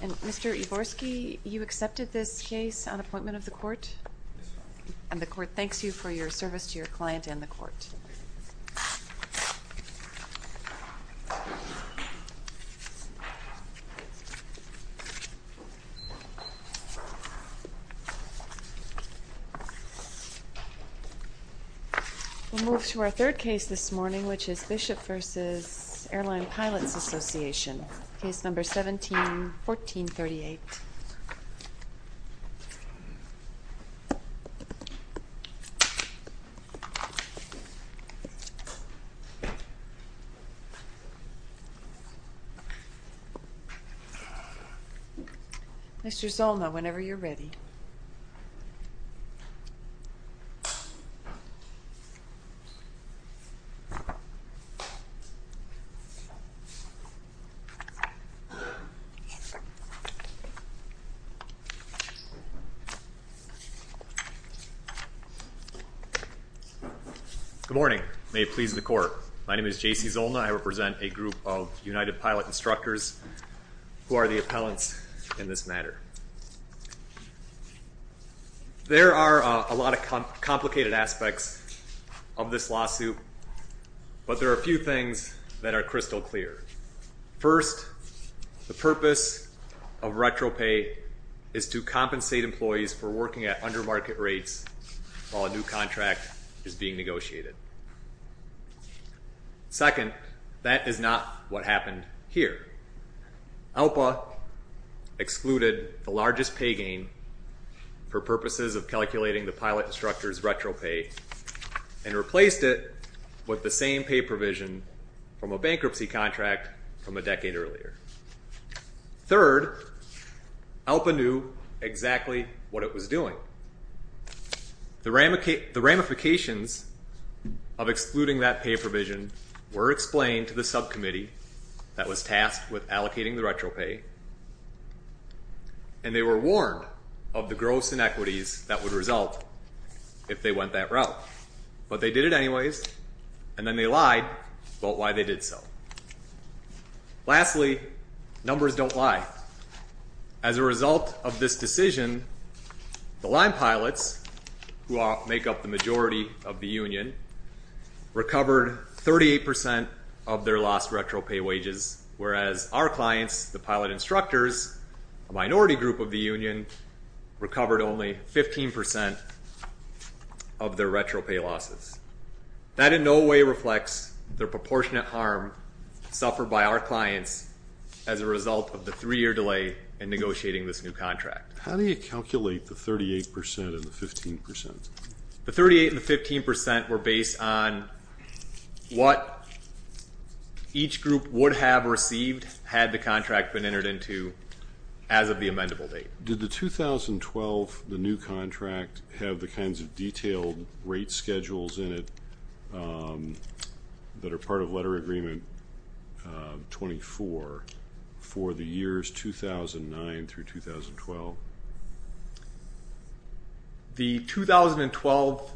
And Mr. Iworski, you accepted this case on appointment of the court? Yes, ma'am. And the court thanks you for your service to your client and the court. Thank you. We'll move to our third case this morning, which is Bishop v. Air Line Pilots Association. Case number 17-1438. Mr. Zolna, whenever you're ready. Thank you. Good morning. May it please the court. My name is J.C. Zolna. I represent a group of United Pilot instructors who are the appellants in this matter. There are a lot of complicated aspects of this lawsuit, but there are a few things that are crystal clear. First, the purpose of retro-pay is to compensate employees for working at under-market rates while a new contract is being negotiated. Second, that is not what happened here. ALPA excluded the largest pay gain for purposes of calculating the pilot instructor's retro-pay and replaced it with the same pay provision from a bankruptcy contract from a decade earlier. Third, ALPA knew exactly what it was doing. The ramifications of excluding that pay provision were explained to the subcommittee that was tasked with allocating the retro-pay, and they were warned of the gross inequities that would result if they went that route. But they did it anyways, and then they lied about why they did so. Lastly, numbers don't lie. As a result of this decision, the line pilots, who make up the majority of the union, recovered 38% of their lost retro-pay wages, whereas our clients, the pilot instructors, a minority group of the union, recovered only 15% of their retro-pay losses. That in no way reflects the proportionate harm suffered by our clients as a result of the three-year delay in negotiating this new contract. How do you calculate the 38% and the 15%? The 38% and the 15% were based on what each group would have received had the contract been entered into as of the amendable date. Did the 2012, the new contract, have the kinds of detailed rate schedules in it that are part of Letter Agreement 24 for the years 2009 through 2012? The 2012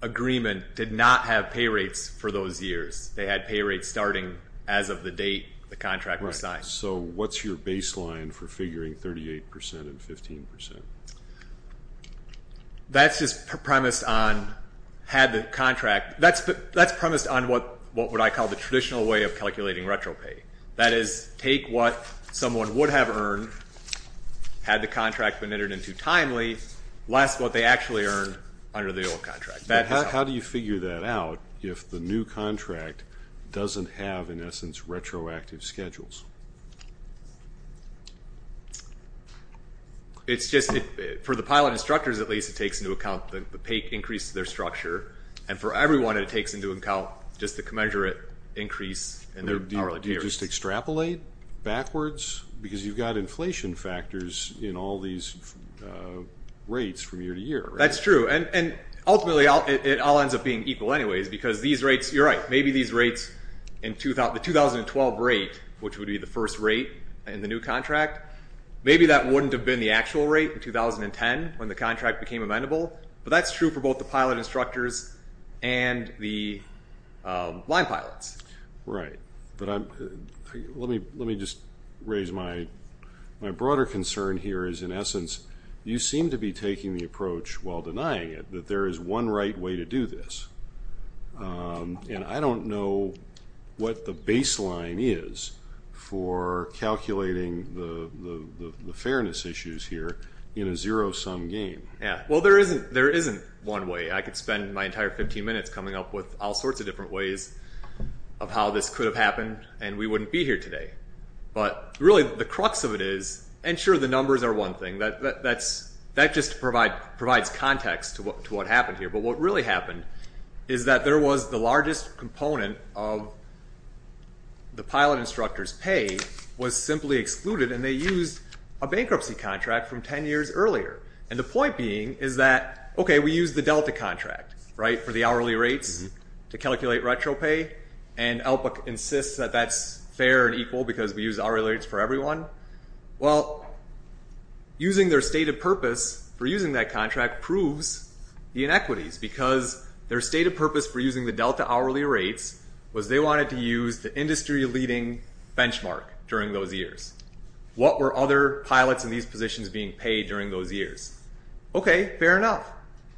agreement did not have pay rates for those years. They had pay rates starting as of the date the contract was signed. So what's your baseline for figuring 38% and 15%? That's just premised on, had the contract, that's premised on what I call the traditional way of calculating retro-pay. That is, take what someone would have earned had the contract been entered into timely, less what they actually earned under the old contract. How do you figure that out if the new contract doesn't have, in essence, retroactive schedules? It's just, for the pilot instructors at least, it takes into account the pay increase to their structure, and for everyone it takes into account just the commensurate increase in their hourly pay rate. Do you just extrapolate backwards? Because you've got inflation factors in all these rates from year to year, right? That's true, and ultimately it all ends up being equal anyways because these rates, you're right, maybe these rates in the 2012 rate, which would be the first rate in the new contract, maybe that wouldn't have been the actual rate in 2010 when the contract became amendable, but that's true for both the pilot instructors and the line pilots. Right, but let me just raise my broader concern here is, in essence, you seem to be taking the approach while denying it that there is one right way to do this. And I don't know what the baseline is for calculating the fairness issues here in a zero-sum game. Yeah, well there isn't one way. I could spend my entire 15 minutes coming up with all sorts of different ways of how this could have happened and we wouldn't be here today. But really the crux of it is, and sure the numbers are one thing, that just provides context to what happened here, but what really happened is that there was the largest component of the pilot instructor's pay was simply excluded and they used a bankruptcy contract from 10 years earlier. And the point being is that, okay, we used the Delta contract, right, for the hourly rates to calculate retro pay and ELPA insists that that's fair and equal because we use hourly rates for everyone. Well, using their stated purpose for using that contract proves the inequities because their stated purpose for using the Delta hourly rates was they wanted to use the industry-leading benchmark during those years. What were other pilots in these positions being paid during those years? Okay, fair enough.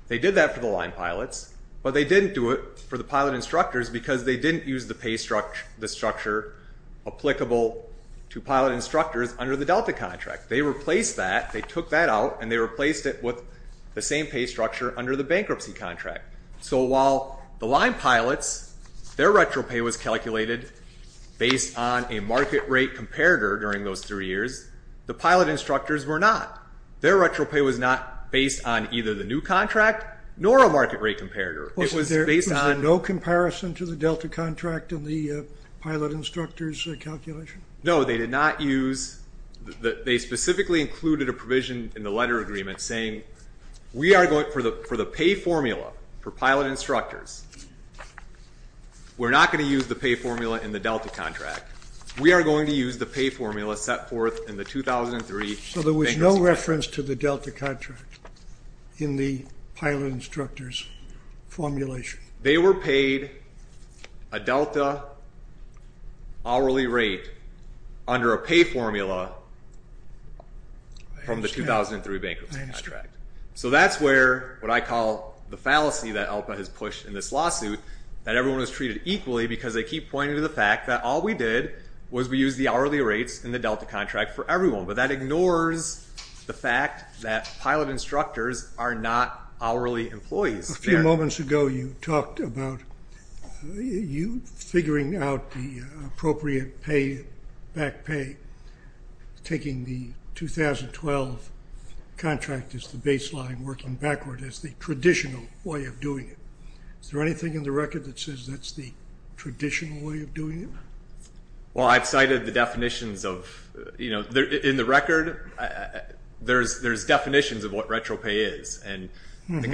They did that for the line pilots, but they didn't do it for the pilot instructors because they didn't use the pay structure applicable to pilot instructors under the Delta contract. They replaced that. They took that out and they replaced it with the same pay structure under the bankruptcy contract. So while the line pilots, their retro pay was calculated based on a market rate comparator during those three years, the pilot instructors were not. Their retro pay was not based on either the new contract nor a market rate comparator. Was there no comparison to the Delta contract in the pilot instructors' calculation? No, they did not use, they specifically included a provision in the letter agreement saying we are going, for the pay formula for pilot instructors, we're not going to use the pay formula in the Delta contract. We are going to use the pay formula set forth in the 2003 bankruptcy contract. So there was no reference to the Delta contract in the pilot instructors' formulation? They were paid a Delta hourly rate under a pay formula from the 2003 bankruptcy contract. So that's where what I call the fallacy that ELPA has pushed in this lawsuit that everyone is treated equally because they keep pointing to the fact that all we did was we used the hourly rates in the Delta contract for everyone. But that ignores the fact that pilot instructors are not hourly employees. A few moments ago you talked about you figuring out the appropriate pay, back pay, taking the 2012 contract as the baseline, working backward as the traditional way of doing it. Is there anything in the record that says that's the traditional way of doing it? Well, I've cited the definitions of, you know, in the record, there's definitions of what retro pay is. And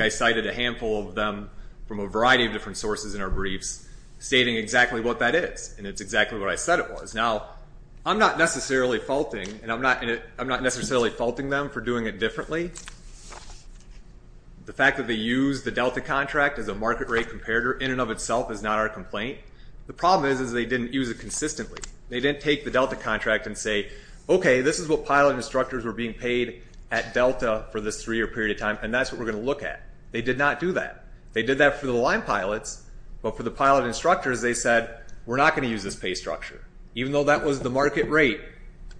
I cited a handful of them from a variety of different sources in our briefs stating exactly what that is. And it's exactly what I said it was. Now, I'm not necessarily faulting them for doing it differently. The fact that they used the Delta contract as a market rate comparator in and of itself is not our complaint. The problem is they didn't use it consistently. They didn't take the Delta contract and say, okay, this is what pilot instructors were being paid at Delta for this three-year period of time and that's what we're going to look at. They did not do that. They did that for the line pilots. But for the pilot instructors, they said, we're not going to use this pay structure. Even though that was the market rate,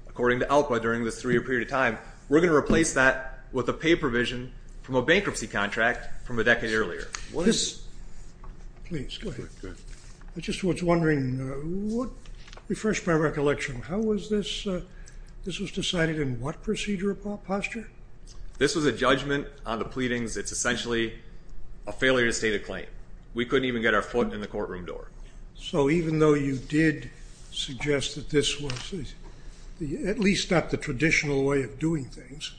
according to ALPA, during this three-year period of time, we're going to replace that with a pay provision from a bankruptcy contract from a decade earlier. Please, go ahead. I just was wondering, refresh my recollection, how was this, this was decided in what procedure or posture? This was a judgment on the pleadings. It's essentially a failure to state a claim. We couldn't even get our foot in the courtroom door. So even though you did suggest that this was, at least not the traditional way of doing things,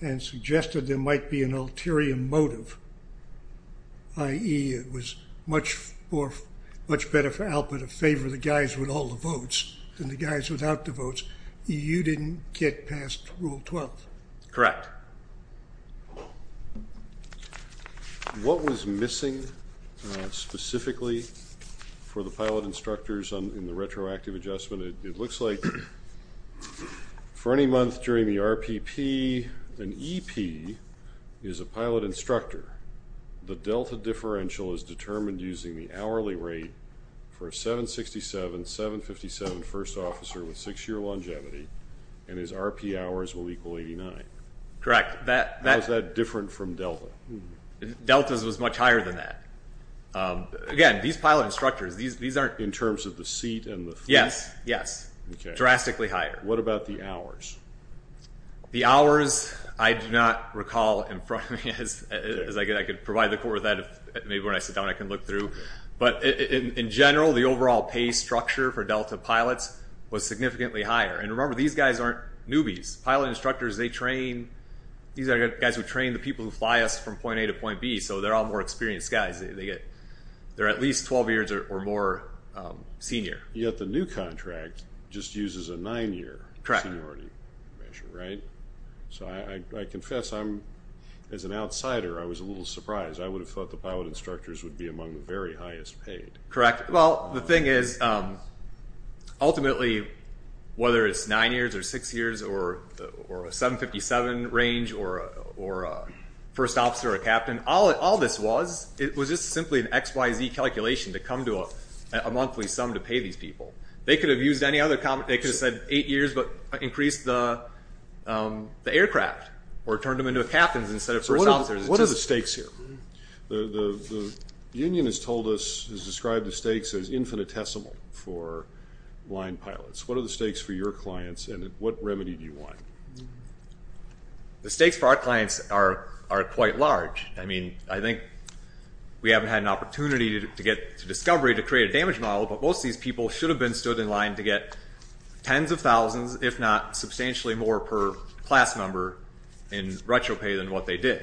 and suggested there might be an ulterior motive, i.e. it was much better for ALPA to favor the guys with all the votes than the guys without the votes, you didn't get past Rule 12? Correct. What was missing specifically for the pilot instructors in the retroactive adjustment? It looks like for any month during the RPP, an EP is a pilot instructor. The delta differential is determined using the hourly rate for a 767, 757 first officer with six-year longevity, and his RP hours will equal 89. Correct. How is that different from delta? Delta was much higher than that. Again, these pilot instructors, these aren't... In terms of the seat and the feet? Yes, yes. Drastically higher. What about the hours? The hours, I do not recall in front of me, as I could provide the court with that. Maybe when I sit down, I can look through. But in general, the overall pay structure for delta pilots was significantly higher. And remember, these guys aren't newbies. Pilot instructors, they train... These are guys who train the people who fly us from point A to point B, so they're all more experienced guys. They're at least 12 years or more senior. Yet the new contract just uses a nine-year seniority. Right. So I confess, as an outsider, I was a little surprised. I would have thought the pilot instructors would be among the very highest paid. Correct. Well, the thing is, ultimately, whether it's nine years or six years or a 757 range or a first officer or captain, all this was, it was just simply an XYZ calculation to come to a monthly sum to pay these people. They could have used any other... They could have said eight years but increased the aircraft or turned them into captains instead of first officers. So what are the stakes here? The union has told us, has described the stakes as infinitesimal for line pilots. What are the stakes for your clients, and what remedy do you want? The stakes for our clients are quite large. I mean, I think we haven't had an opportunity to get to discovery to create a damage model, but most of these people should have been stood in line to get tens of thousands, if not substantially more per class member in retro pay than what they did.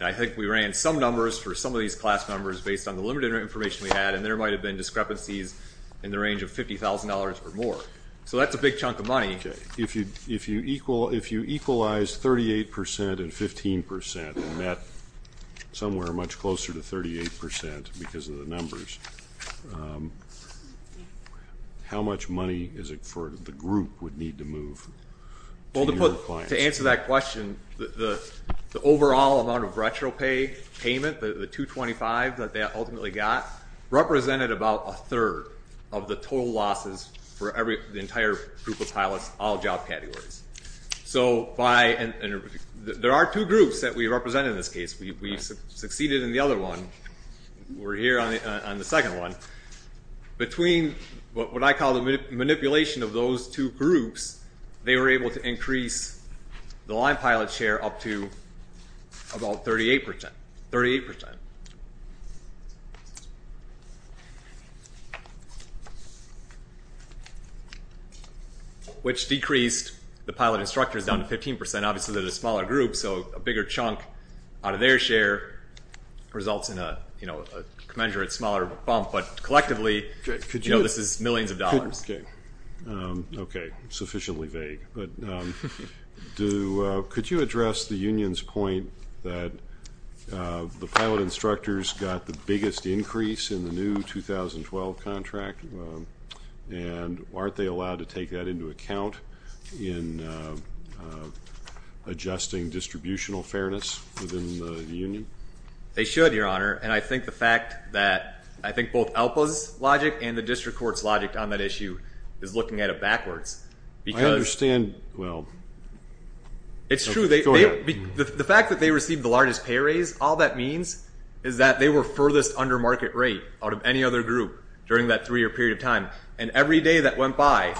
I think we ran some numbers for some of these class members based on the limited information we had, and there might have been discrepancies in the range of $50,000 or more. So that's a big chunk of money. If you equalize 38% and 15% and that's somewhere much closer to 38% because of the numbers, how much money is it for the group would need to move? To answer that question, the overall amount of retro pay payment, the 225 that they ultimately got, represented about a third of the total losses for the entire group of pilots, all job categories. There are two groups that we represent in this case. We succeeded in the other one. We're here on the second one. Between what I call the manipulation of those two groups, they were able to increase the line pilot share up to about 38%. Which decreased the pilot instructors down to 15%, obviously they're a smaller group, so a bigger chunk out of their share results in a commensurate smaller bump, but collectively, this is millions of dollars. Okay, sufficiently vague. Could you address the union's point that the pilot instructors got the biggest increase in the new 2012 contract and aren't they allowed to take that into account in adjusting distributional fairness within the union? They should, Your Honor. I think both ELPA's logic and the district court's logic on that issue is looking at it backwards. I understand. It's true. The fact that they received the largest pay raise, all that means is that they were furthest under market rate out of any other group during that three-year period of time. Every day that went by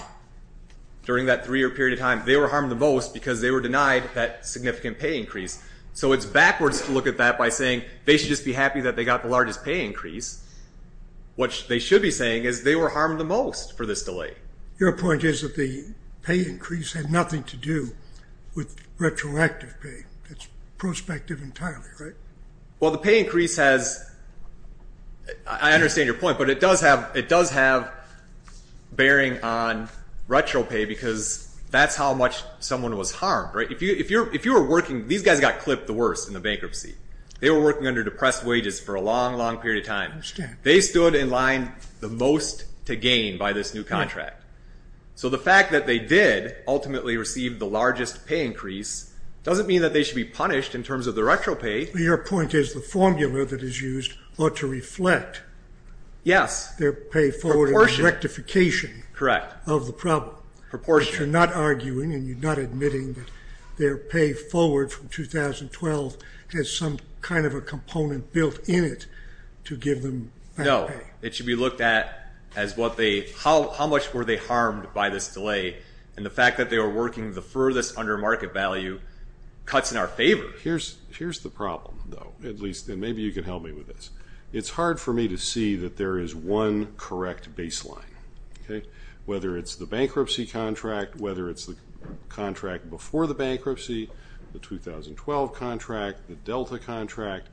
during that three-year period of time, they were harmed the most because they were denied that significant pay increase. So it's backwards to look at that by saying they should just be happy that they got the largest pay increase, which they should be saying is they were harmed the most for this delay. Your point is that the pay increase had nothing to do with retroactive pay. It's prospective entirely, right? Well, the pay increase has... I understand your point, but it does have bearing on retro pay because that's how much someone was harmed. These guys got clipped the worst in the bankruptcy. They were working under depressed wages for a long, long period of time. They stood in line the most to gain by this new contract. So the fact that they did ultimately receive the largest pay increase doesn't mean that they should be punished in terms of the retro pay. Your point is the formula that is used ought to reflect their pay forward and rectification of the problem. But you're not arguing and you're not admitting that their pay forward from 2012 has some kind of a component built in it to give them back pay. No. It should be looked at as how much were they harmed by this delay and the fact that they were working the furthest under market value cuts in our favor. Here's the problem. Maybe you can help me with this. It's hard for me to see that there is one correct baseline. Whether it's the bankruptcy contract, whether it's the contract before the bankruptcy, the 2012 contract, the Delta contract,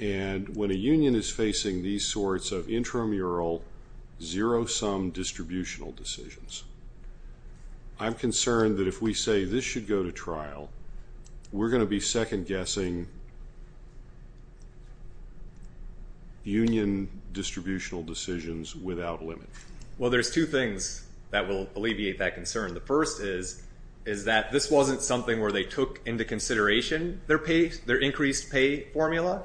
and when a union is facing these sorts of intramural zero-sum distributional decisions. I'm concerned that if we say this should go to trial, we're going to be second guessing union distributional decisions without limit. Well, there's two things that will alleviate that concern. The first is that this wasn't something where they took into consideration their increased pay formula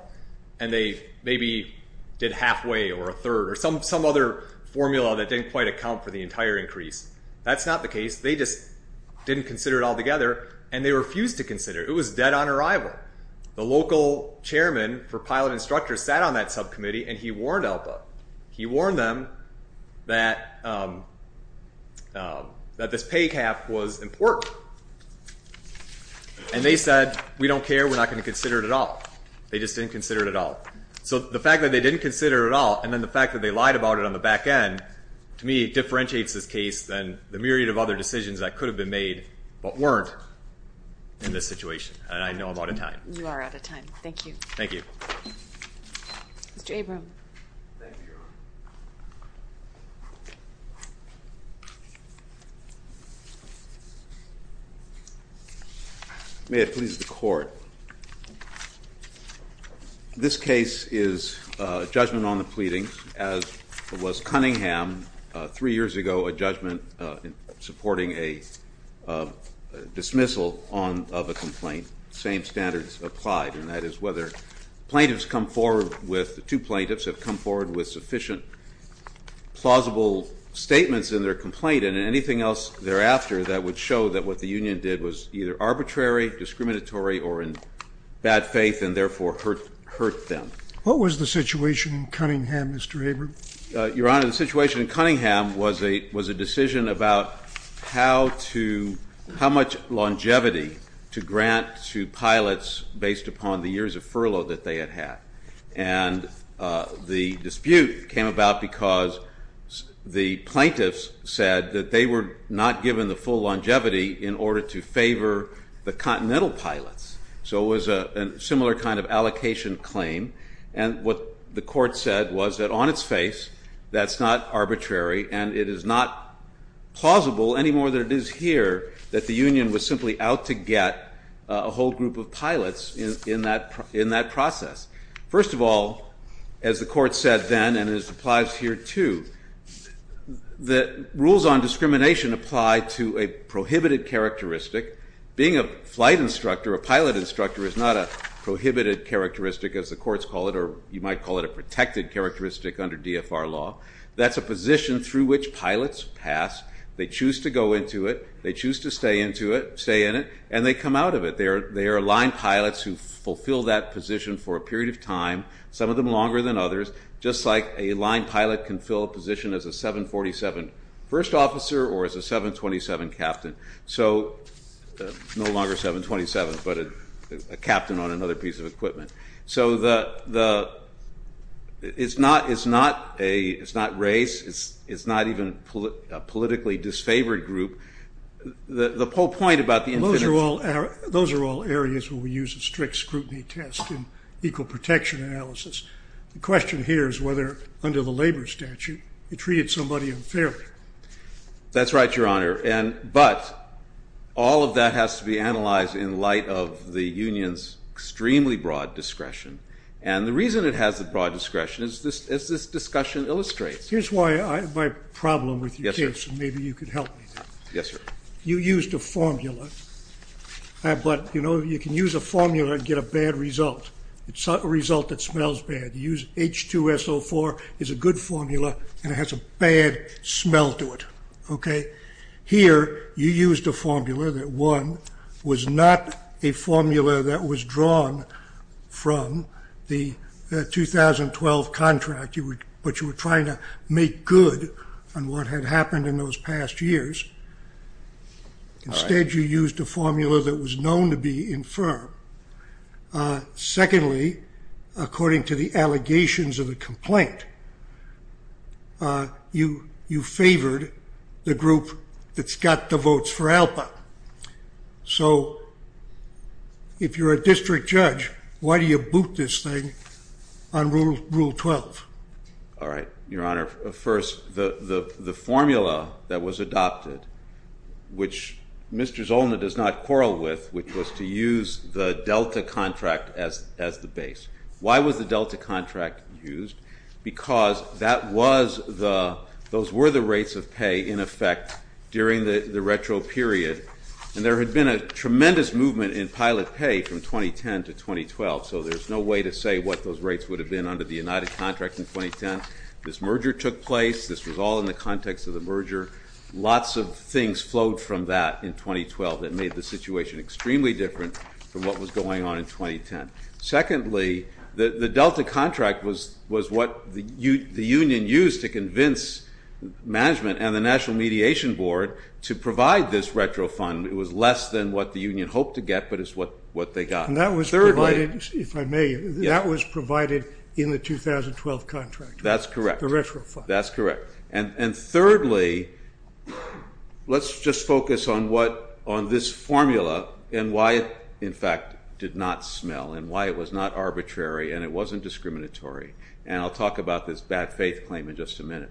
and they maybe did halfway or a third or some other formula that didn't quite account for the entire increase. That's not the case. They just didn't consider it all together and they refused to consider it. It was dead on arrival. The local chairman for pilot instructors sat on that subcommittee and he warned ELPA. He warned them that this pay cap was important and they said, we don't care, we're not going to consider it at all. They just didn't consider it at all. So the fact that they didn't consider it at all and then the fact that they lied about it on the back end to me differentiates this case than the myriad of other decisions that could have been made but weren't in this situation and I know I'm out of time. You are out of time. Thank you. Thank you. Mr. Abram. May it please the court. This case is a judgment on the pleadings as was Cunningham three years ago, a judgment supporting a dismissal of a complaint. Same standards applied and that is whether two plaintiffs have come forward with sufficient plausible statements in their complaint and anything else thereafter that would show that what the union did was either arbitrary, discriminatory or in bad faith and therefore hurt them. What was the situation in Cunningham, Mr. Abram? Your Honor, the situation in Cunningham was a decision about how much longevity to grant to pilots based upon the years of furlough that they had had and the dispute came about because the plaintiffs said that they were not given the full longevity in order to favor the continental pilots. So it was a similar kind of allocation claim and what the court said was that on its face that's not arbitrary and it is not plausible any more than it is here that the union was simply out to get a whole group of pilots in that process. First of all as the court said then and it applies here too the rules on discrimination apply to a prohibited characteristic. Being a flight instructor, a pilot instructor is not a prohibited characteristic as the courts call it or you might call it a That's a position through which pilots pass, they choose to go into it, they choose to stay in it and they come out of it. They are line pilots who fulfill that position for a period of time, some of them longer than others, just like a line pilot can fill a position as a 747 first officer or as a 727 captain. So, no longer 727 but a captain on another piece of equipment. So the it's not a race, it's not even a politically disfavored group. The whole point about the infinity Those are all areas where we use a strict scrutiny test and equal protection analysis. The question here is whether under the labor statute you treated somebody unfairly. That's right your honor but all of that has to be analyzed in light of the union's extremely broad discretion. And the reason it has a broad discretion is this discussion illustrates. Here's why I have my problem with your case and maybe you could help me Yes sir. You used a formula but you know you can use a formula and get a bad result. It's not a result that smells bad. You use H2SO4 is a good formula and it has a bad smell to it. Okay, here you used a formula that one was not a formula that was drawn from the 2012 contract but you were trying to make good on what had happened in those past years. Instead you used a formula that was known to be infirm. Secondly, according to the allegations of the complaint you favored the group that's got the votes for Alpha. So if you're a district judge, why do you boot this thing on Rule 12? Alright, Your Honor. First, the formula that was adopted which Mr. Zolna does not quarrel with, which was to use the Delta contract as the base. Why was the Delta contract used? Because that was the rates of pay in effect during the retro period and there had been a tremendous movement in pilot pay from 2010 to 2012 so there's no way to say what those rates would have been under the United contract in 2010. This merger took place this was all in the context of the merger lots of things flowed from that in 2012 that made the situation extremely different from what was going on in 2010. Secondly, the Delta contract was what the union used to convince management and the National Mediation Board to provide this retro fund. It was less than what the union hoped to get but it's what they got. And that was provided if I may, that was provided in the 2012 contract. That's correct. The retro fund. That's correct. And thirdly, let's just focus on what, on this formula and why it in fact did not smell and why it was not arbitrary and it wasn't discriminatory and I'll talk about this bad faith claim in just a minute.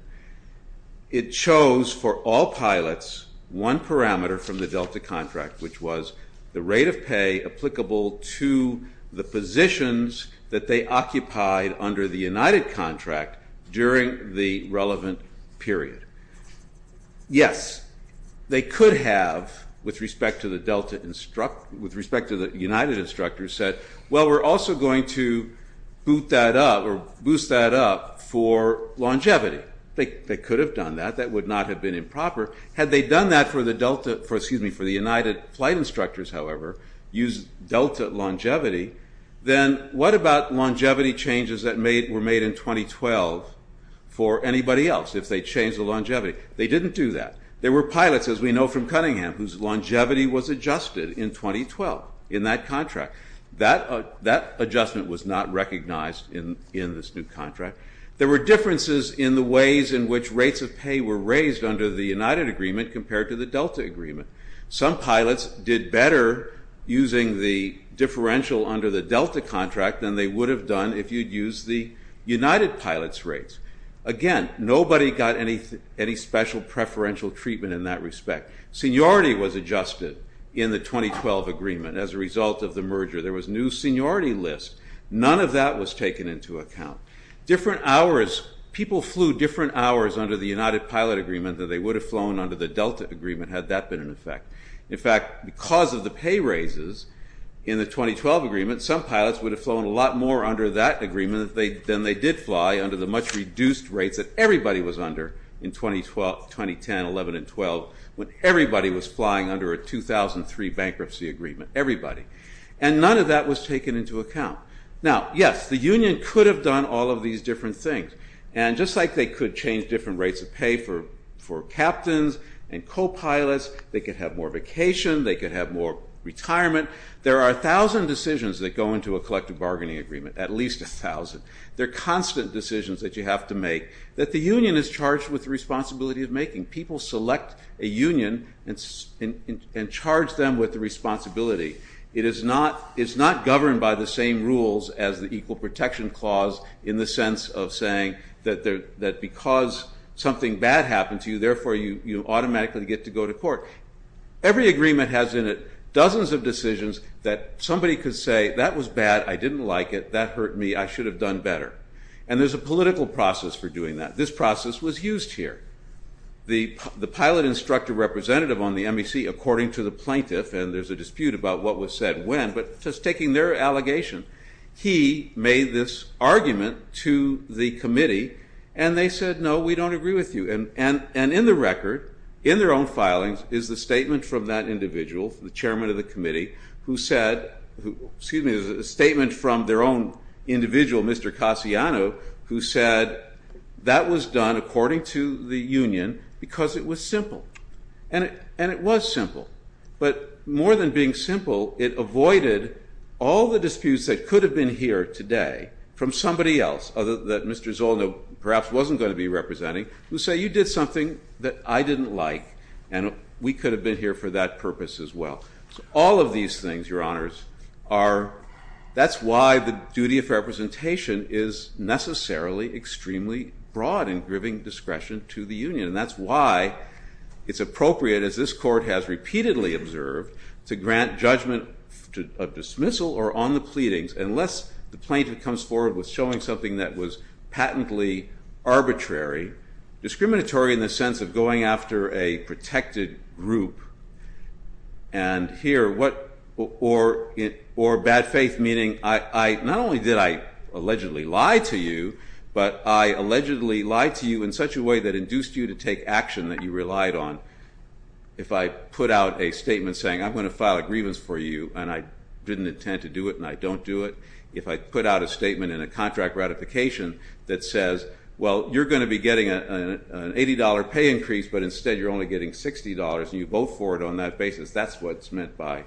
It chose for all pilots one parameter from the Delta contract which was the rate of pay applicable to the positions that they occupied under the United contract during the relevant period. Yes, they could have with respect to the Delta, with respect to the United instructors said, well we're also going to boost that up for longevity. They could have done that. That would not have been improper. Had they done that for the Delta, excuse me, for the United flight instructors however, used Delta longevity, then what about longevity changes that were made in 2012 for anybody else if they changed the longevity? They didn't do that. There were pilots as we know from Cunningham whose longevity was adjusted in 2012 in that contract. That adjustment was not recognized in this new contract. There were differences in the ways in which rates of pay were raised under the United agreement compared to the Delta agreement. Some pilots did better using the differential under the Delta contract than they would have done if you'd used the United pilots rates. Again, nobody got any special preferential treatment in that respect. Seniority was adjusted in the 2012 agreement as a result of the merger. There was new seniority lists. None of that was taken into account. People flew different hours under the United pilot agreement than they would have flown under the Delta agreement had that been in effect. In fact, because of the pay raises in the 2012 agreement, some pilots would have flown a lot more under that agreement than they did fly under the much reduced rates that everybody was under in 2012, 2010, 11, and 12 when everybody was flying under a 2003 bankruptcy agreement. Everybody. None of that was taken into account. Now, yes, the union could have done all of these different things. Just like they could change different rates of pay for captains and co-pilots, they could have more vacation, they could have more retirement. There are a thousand decisions that go into a collective bargaining agreement, at least a thousand. They're constant decisions that you have to make that the union is charged with the responsibility of making. People select a union and charge them with the responsibility. It is not governed by the same rules as the equal protection clause in the sense of saying that because something bad happened to you, therefore you automatically get to go to court. Every agreement has in it dozens of decisions that somebody could say, that was bad, I didn't like it, that hurt me, I should have done better. And there's a political process for doing that. This process was used here. The pilot instructor representative on the MEC, according to the what was said when, but just taking their allegation, he made this argument to the committee and they said, no, we don't agree with you. And in the record, in their own filings, is the statement from that individual, the chairman of the committee, who said excuse me, a statement from their own individual, Mr. Cassiano, who said that was done according to the union because it was simple. And it was simple. But more than being simple, it avoided all the disputes that could have been here today from somebody else that Mr. Zolno perhaps wasn't going to be representing, who said you did something that I didn't like and we could have been here for that purpose as well. All of these things, Your Honors, are, that's why the duty of representation is necessarily extremely broad in giving discretion to the union. And that's why it's appropriate, as this court has repeatedly observed, to grant judgment of dismissal or on the pleadings unless the plaintiff comes forward with showing something that was patently arbitrary, discriminatory in the sense of going after a protected group. And here, what or bad faith meaning, not only did I allegedly lie to you, but I allegedly lied to you in such a way that induced you to take action that you relied on. If I put out a statement saying, I'm going to file a grievance for you and I didn't intend to do it and I don't do it, if I put out a statement in a contract ratification that says, well, you're going to be getting an $80 pay increase, but instead you're only getting $60 and you vote for it on that basis, that's what's meant by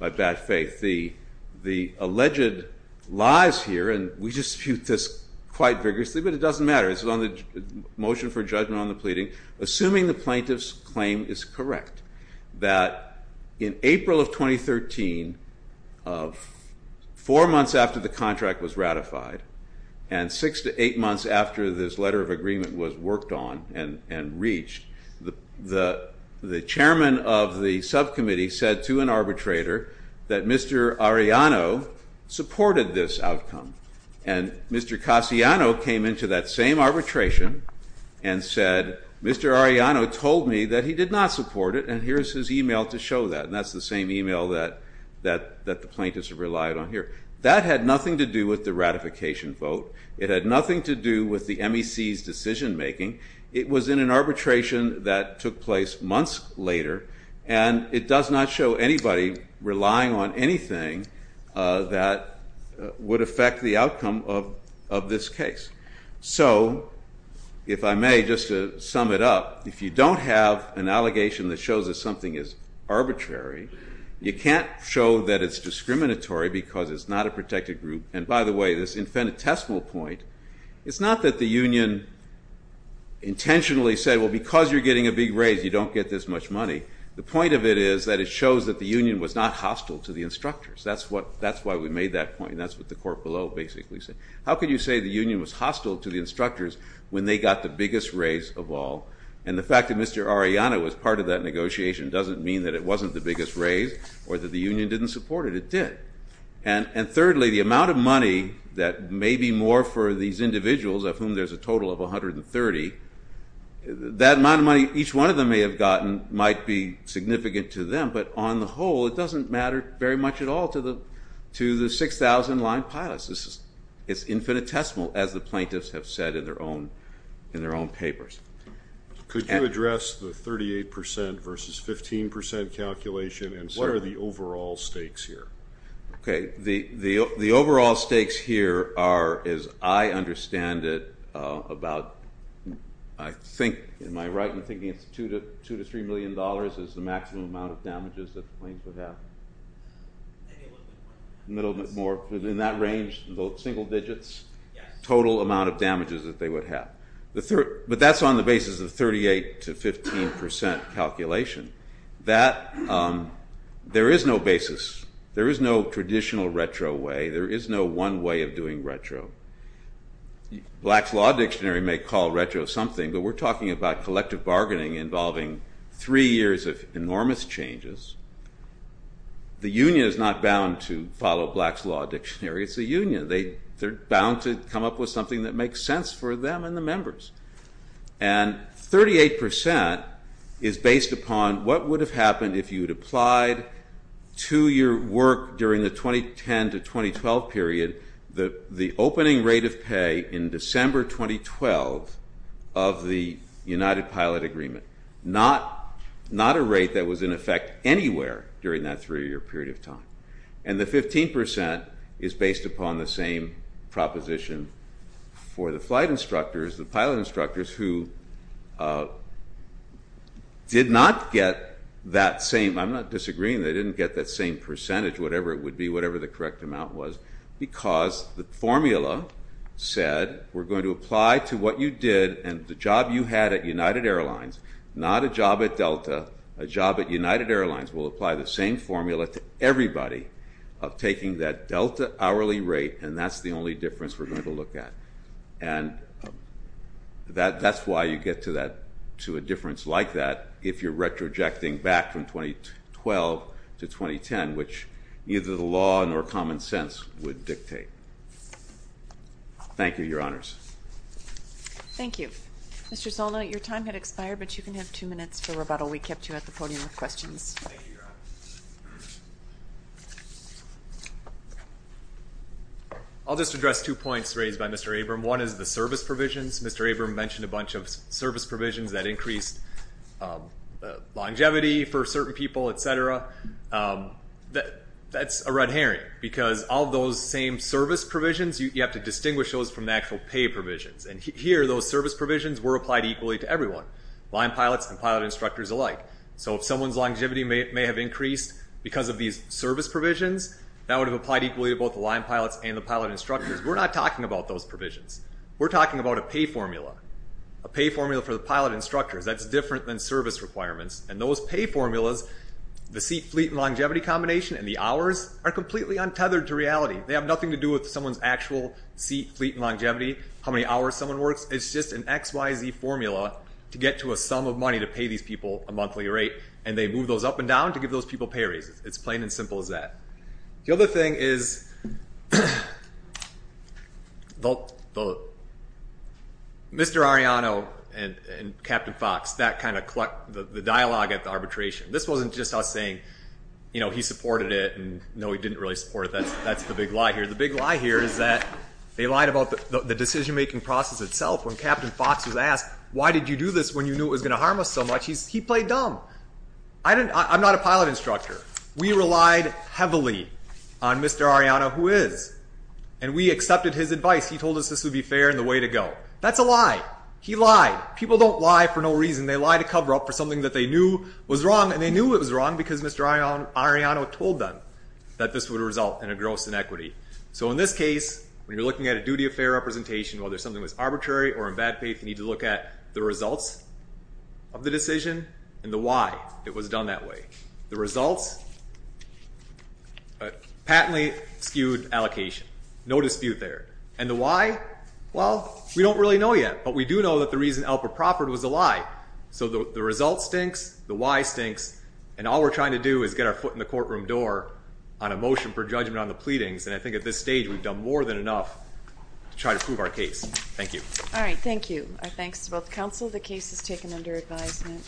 bad faith. The alleged lies here, and we dispute this quite strongly, the motion for judgment on the pleading, assuming the plaintiff's claim is correct, that in April of 2013, four months after the contract was ratified and six to eight months after this letter of agreement was worked on and reached, the chairman of the subcommittee said to an arbitrator that Mr. Arellano supported this outcome and Mr. Cassiano came into that same arbitration and said, Mr. Arellano told me that he did not support it and here's his email to show that. And that's the same email that the plaintiffs have relied on here. That had nothing to do with the ratification vote. It had nothing to do with the MEC's decision making. It was in an arbitration that took place months later and it does not show anybody relying on anything that would affect the outcome of this case. So, if I may, just to sum it up, if you don't have an allegation that shows that something is arbitrary, you can't show that it's discriminatory because it's not a protected group. And by the way, this infinitesimal point, it's not that the union intentionally said, well because you're getting a big raise you don't get this much money. The point of it is that it shows that the union was not hostile to the instructors. That's why we made that point and that's what the court below basically said. How could you say the union was hostile to the instructors when they got the biggest raise of all and the fact that Mr. Arellano was part of that negotiation doesn't mean that it wasn't the biggest raise or that the union didn't support it. It did. And thirdly, the amount of money that may be more for these individuals, of whom there's a total of 130, that amount of money each one of them may have gotten might be significant to them, but on the whole it doesn't matter very much at all to the 6,000 line pilots. It's infinitesimal, as the plaintiffs have said in their own papers. Could you address the 38% versus 15% calculation and what are the overall stakes here? Okay, the overall stakes here are, as I understand it, about, I think am I right in thinking it's two to three million dollars is the maximum amount of maybe a little bit more. A little bit more. Within that range, the single digits, total amount of damages that they would have. But that's on the basis of 38% to 15% calculation. That, there is no basis. There is no traditional retro way. There is no one way of doing retro. Black's Law Dictionary may call retro something, but we're talking about collective bargaining involving three years of enormous changes. The union is not bound to follow Black's Law Dictionary. It's the union. They're bound to come up with something that makes sense for them and the members. And 38% is based upon what would have happened if you had applied two year work during the 2010 to 2012 period the opening rate of pay in December 2012 of the United Pilot Agreement. Not a rate that was in effect anywhere during that three year period of time. And the 15% is based upon the same proposition for the flight instructors, the pilot instructors who did not get that same, I'm not disagreeing, they didn't get that same percentage, whatever it would be, whatever the correct amount was. Because the formula said, we're going to apply to what you did and the job you had at Delta, a job at United Airlines, we'll apply the same formula to everybody of taking that Delta hourly rate and that's the only difference we're going to look at. And that's why you get to a difference like that if you're retrojecting back from 2012 to 2010, which neither the law nor common sense would dictate. Thank you, your honors. Thank you. Mr. Zolno, your time had expired, but you can have two minutes for rebuttal. We kept you at the podium with questions. Thank you, your honors. I'll just address two points raised by Mr. Abram. One is the service provisions. Mr. Abram mentioned a bunch of service provisions that increased longevity for certain people, etc. That's a red herring because all those same service provisions, you have to distinguish those from the actual pay provisions. And here those service provisions were applied equally to everyone. Line pilots and pilot instructors alike. So if someone's longevity may have increased because of these service provisions, that would have applied equally to both the line pilots and the pilot instructors. We're not talking about those provisions. We're talking about a pay formula. A pay formula for the pilot instructors. That's different than service requirements. And those pay formulas, the seat, fleet, and longevity combination and the hours are completely untethered to reality. They have nothing to do with someone's actual seat, fleet, and longevity, how many hours someone works. It's just an XYZ formula to get to a sum of money to pay these people a monthly rate. And they move those up and down to give those people pay raises. It's plain and simple as that. The other thing is Mr. Arellano and Captain Fox, that kind of clucked the dialogue at the arbitration. This wasn't just us saying he supported it and no, he didn't really support it. That's the big lie here. The big lie here is that they lied about the decision-making process itself when Captain Fox was asked, why did you do this when you knew it was going to harm us so much? He played dumb. I'm not a pilot instructor. We relied heavily on Mr. Arellano who is. And we accepted his advice. He told us this would be fair and the way to go. That's a lie. He lied. People don't lie for no reason. They lie to cover up for something that they knew was wrong and they knew it was wrong because Mr. Arellano told them that this would result in a gross inequity. So in this case, when you're looking at a duty of fair representation, whether something was arbitrary or in bad faith, you need to look at the results of the decision and the why it was done that way. The results patently skewed allocation. No dispute there. And the why? Well, we don't really know yet, but we do know that the reason Alpert proffered was a lie. So the result stinks, the why stinks, and all we're trying to do is get our foot in the courtroom door on a motion for judgment on the pleadings. And I think at this stage, we've done more than enough to try to prove our case. Thank you. All right. Thank you. Our thanks to both counsel. The case is taken under advisement.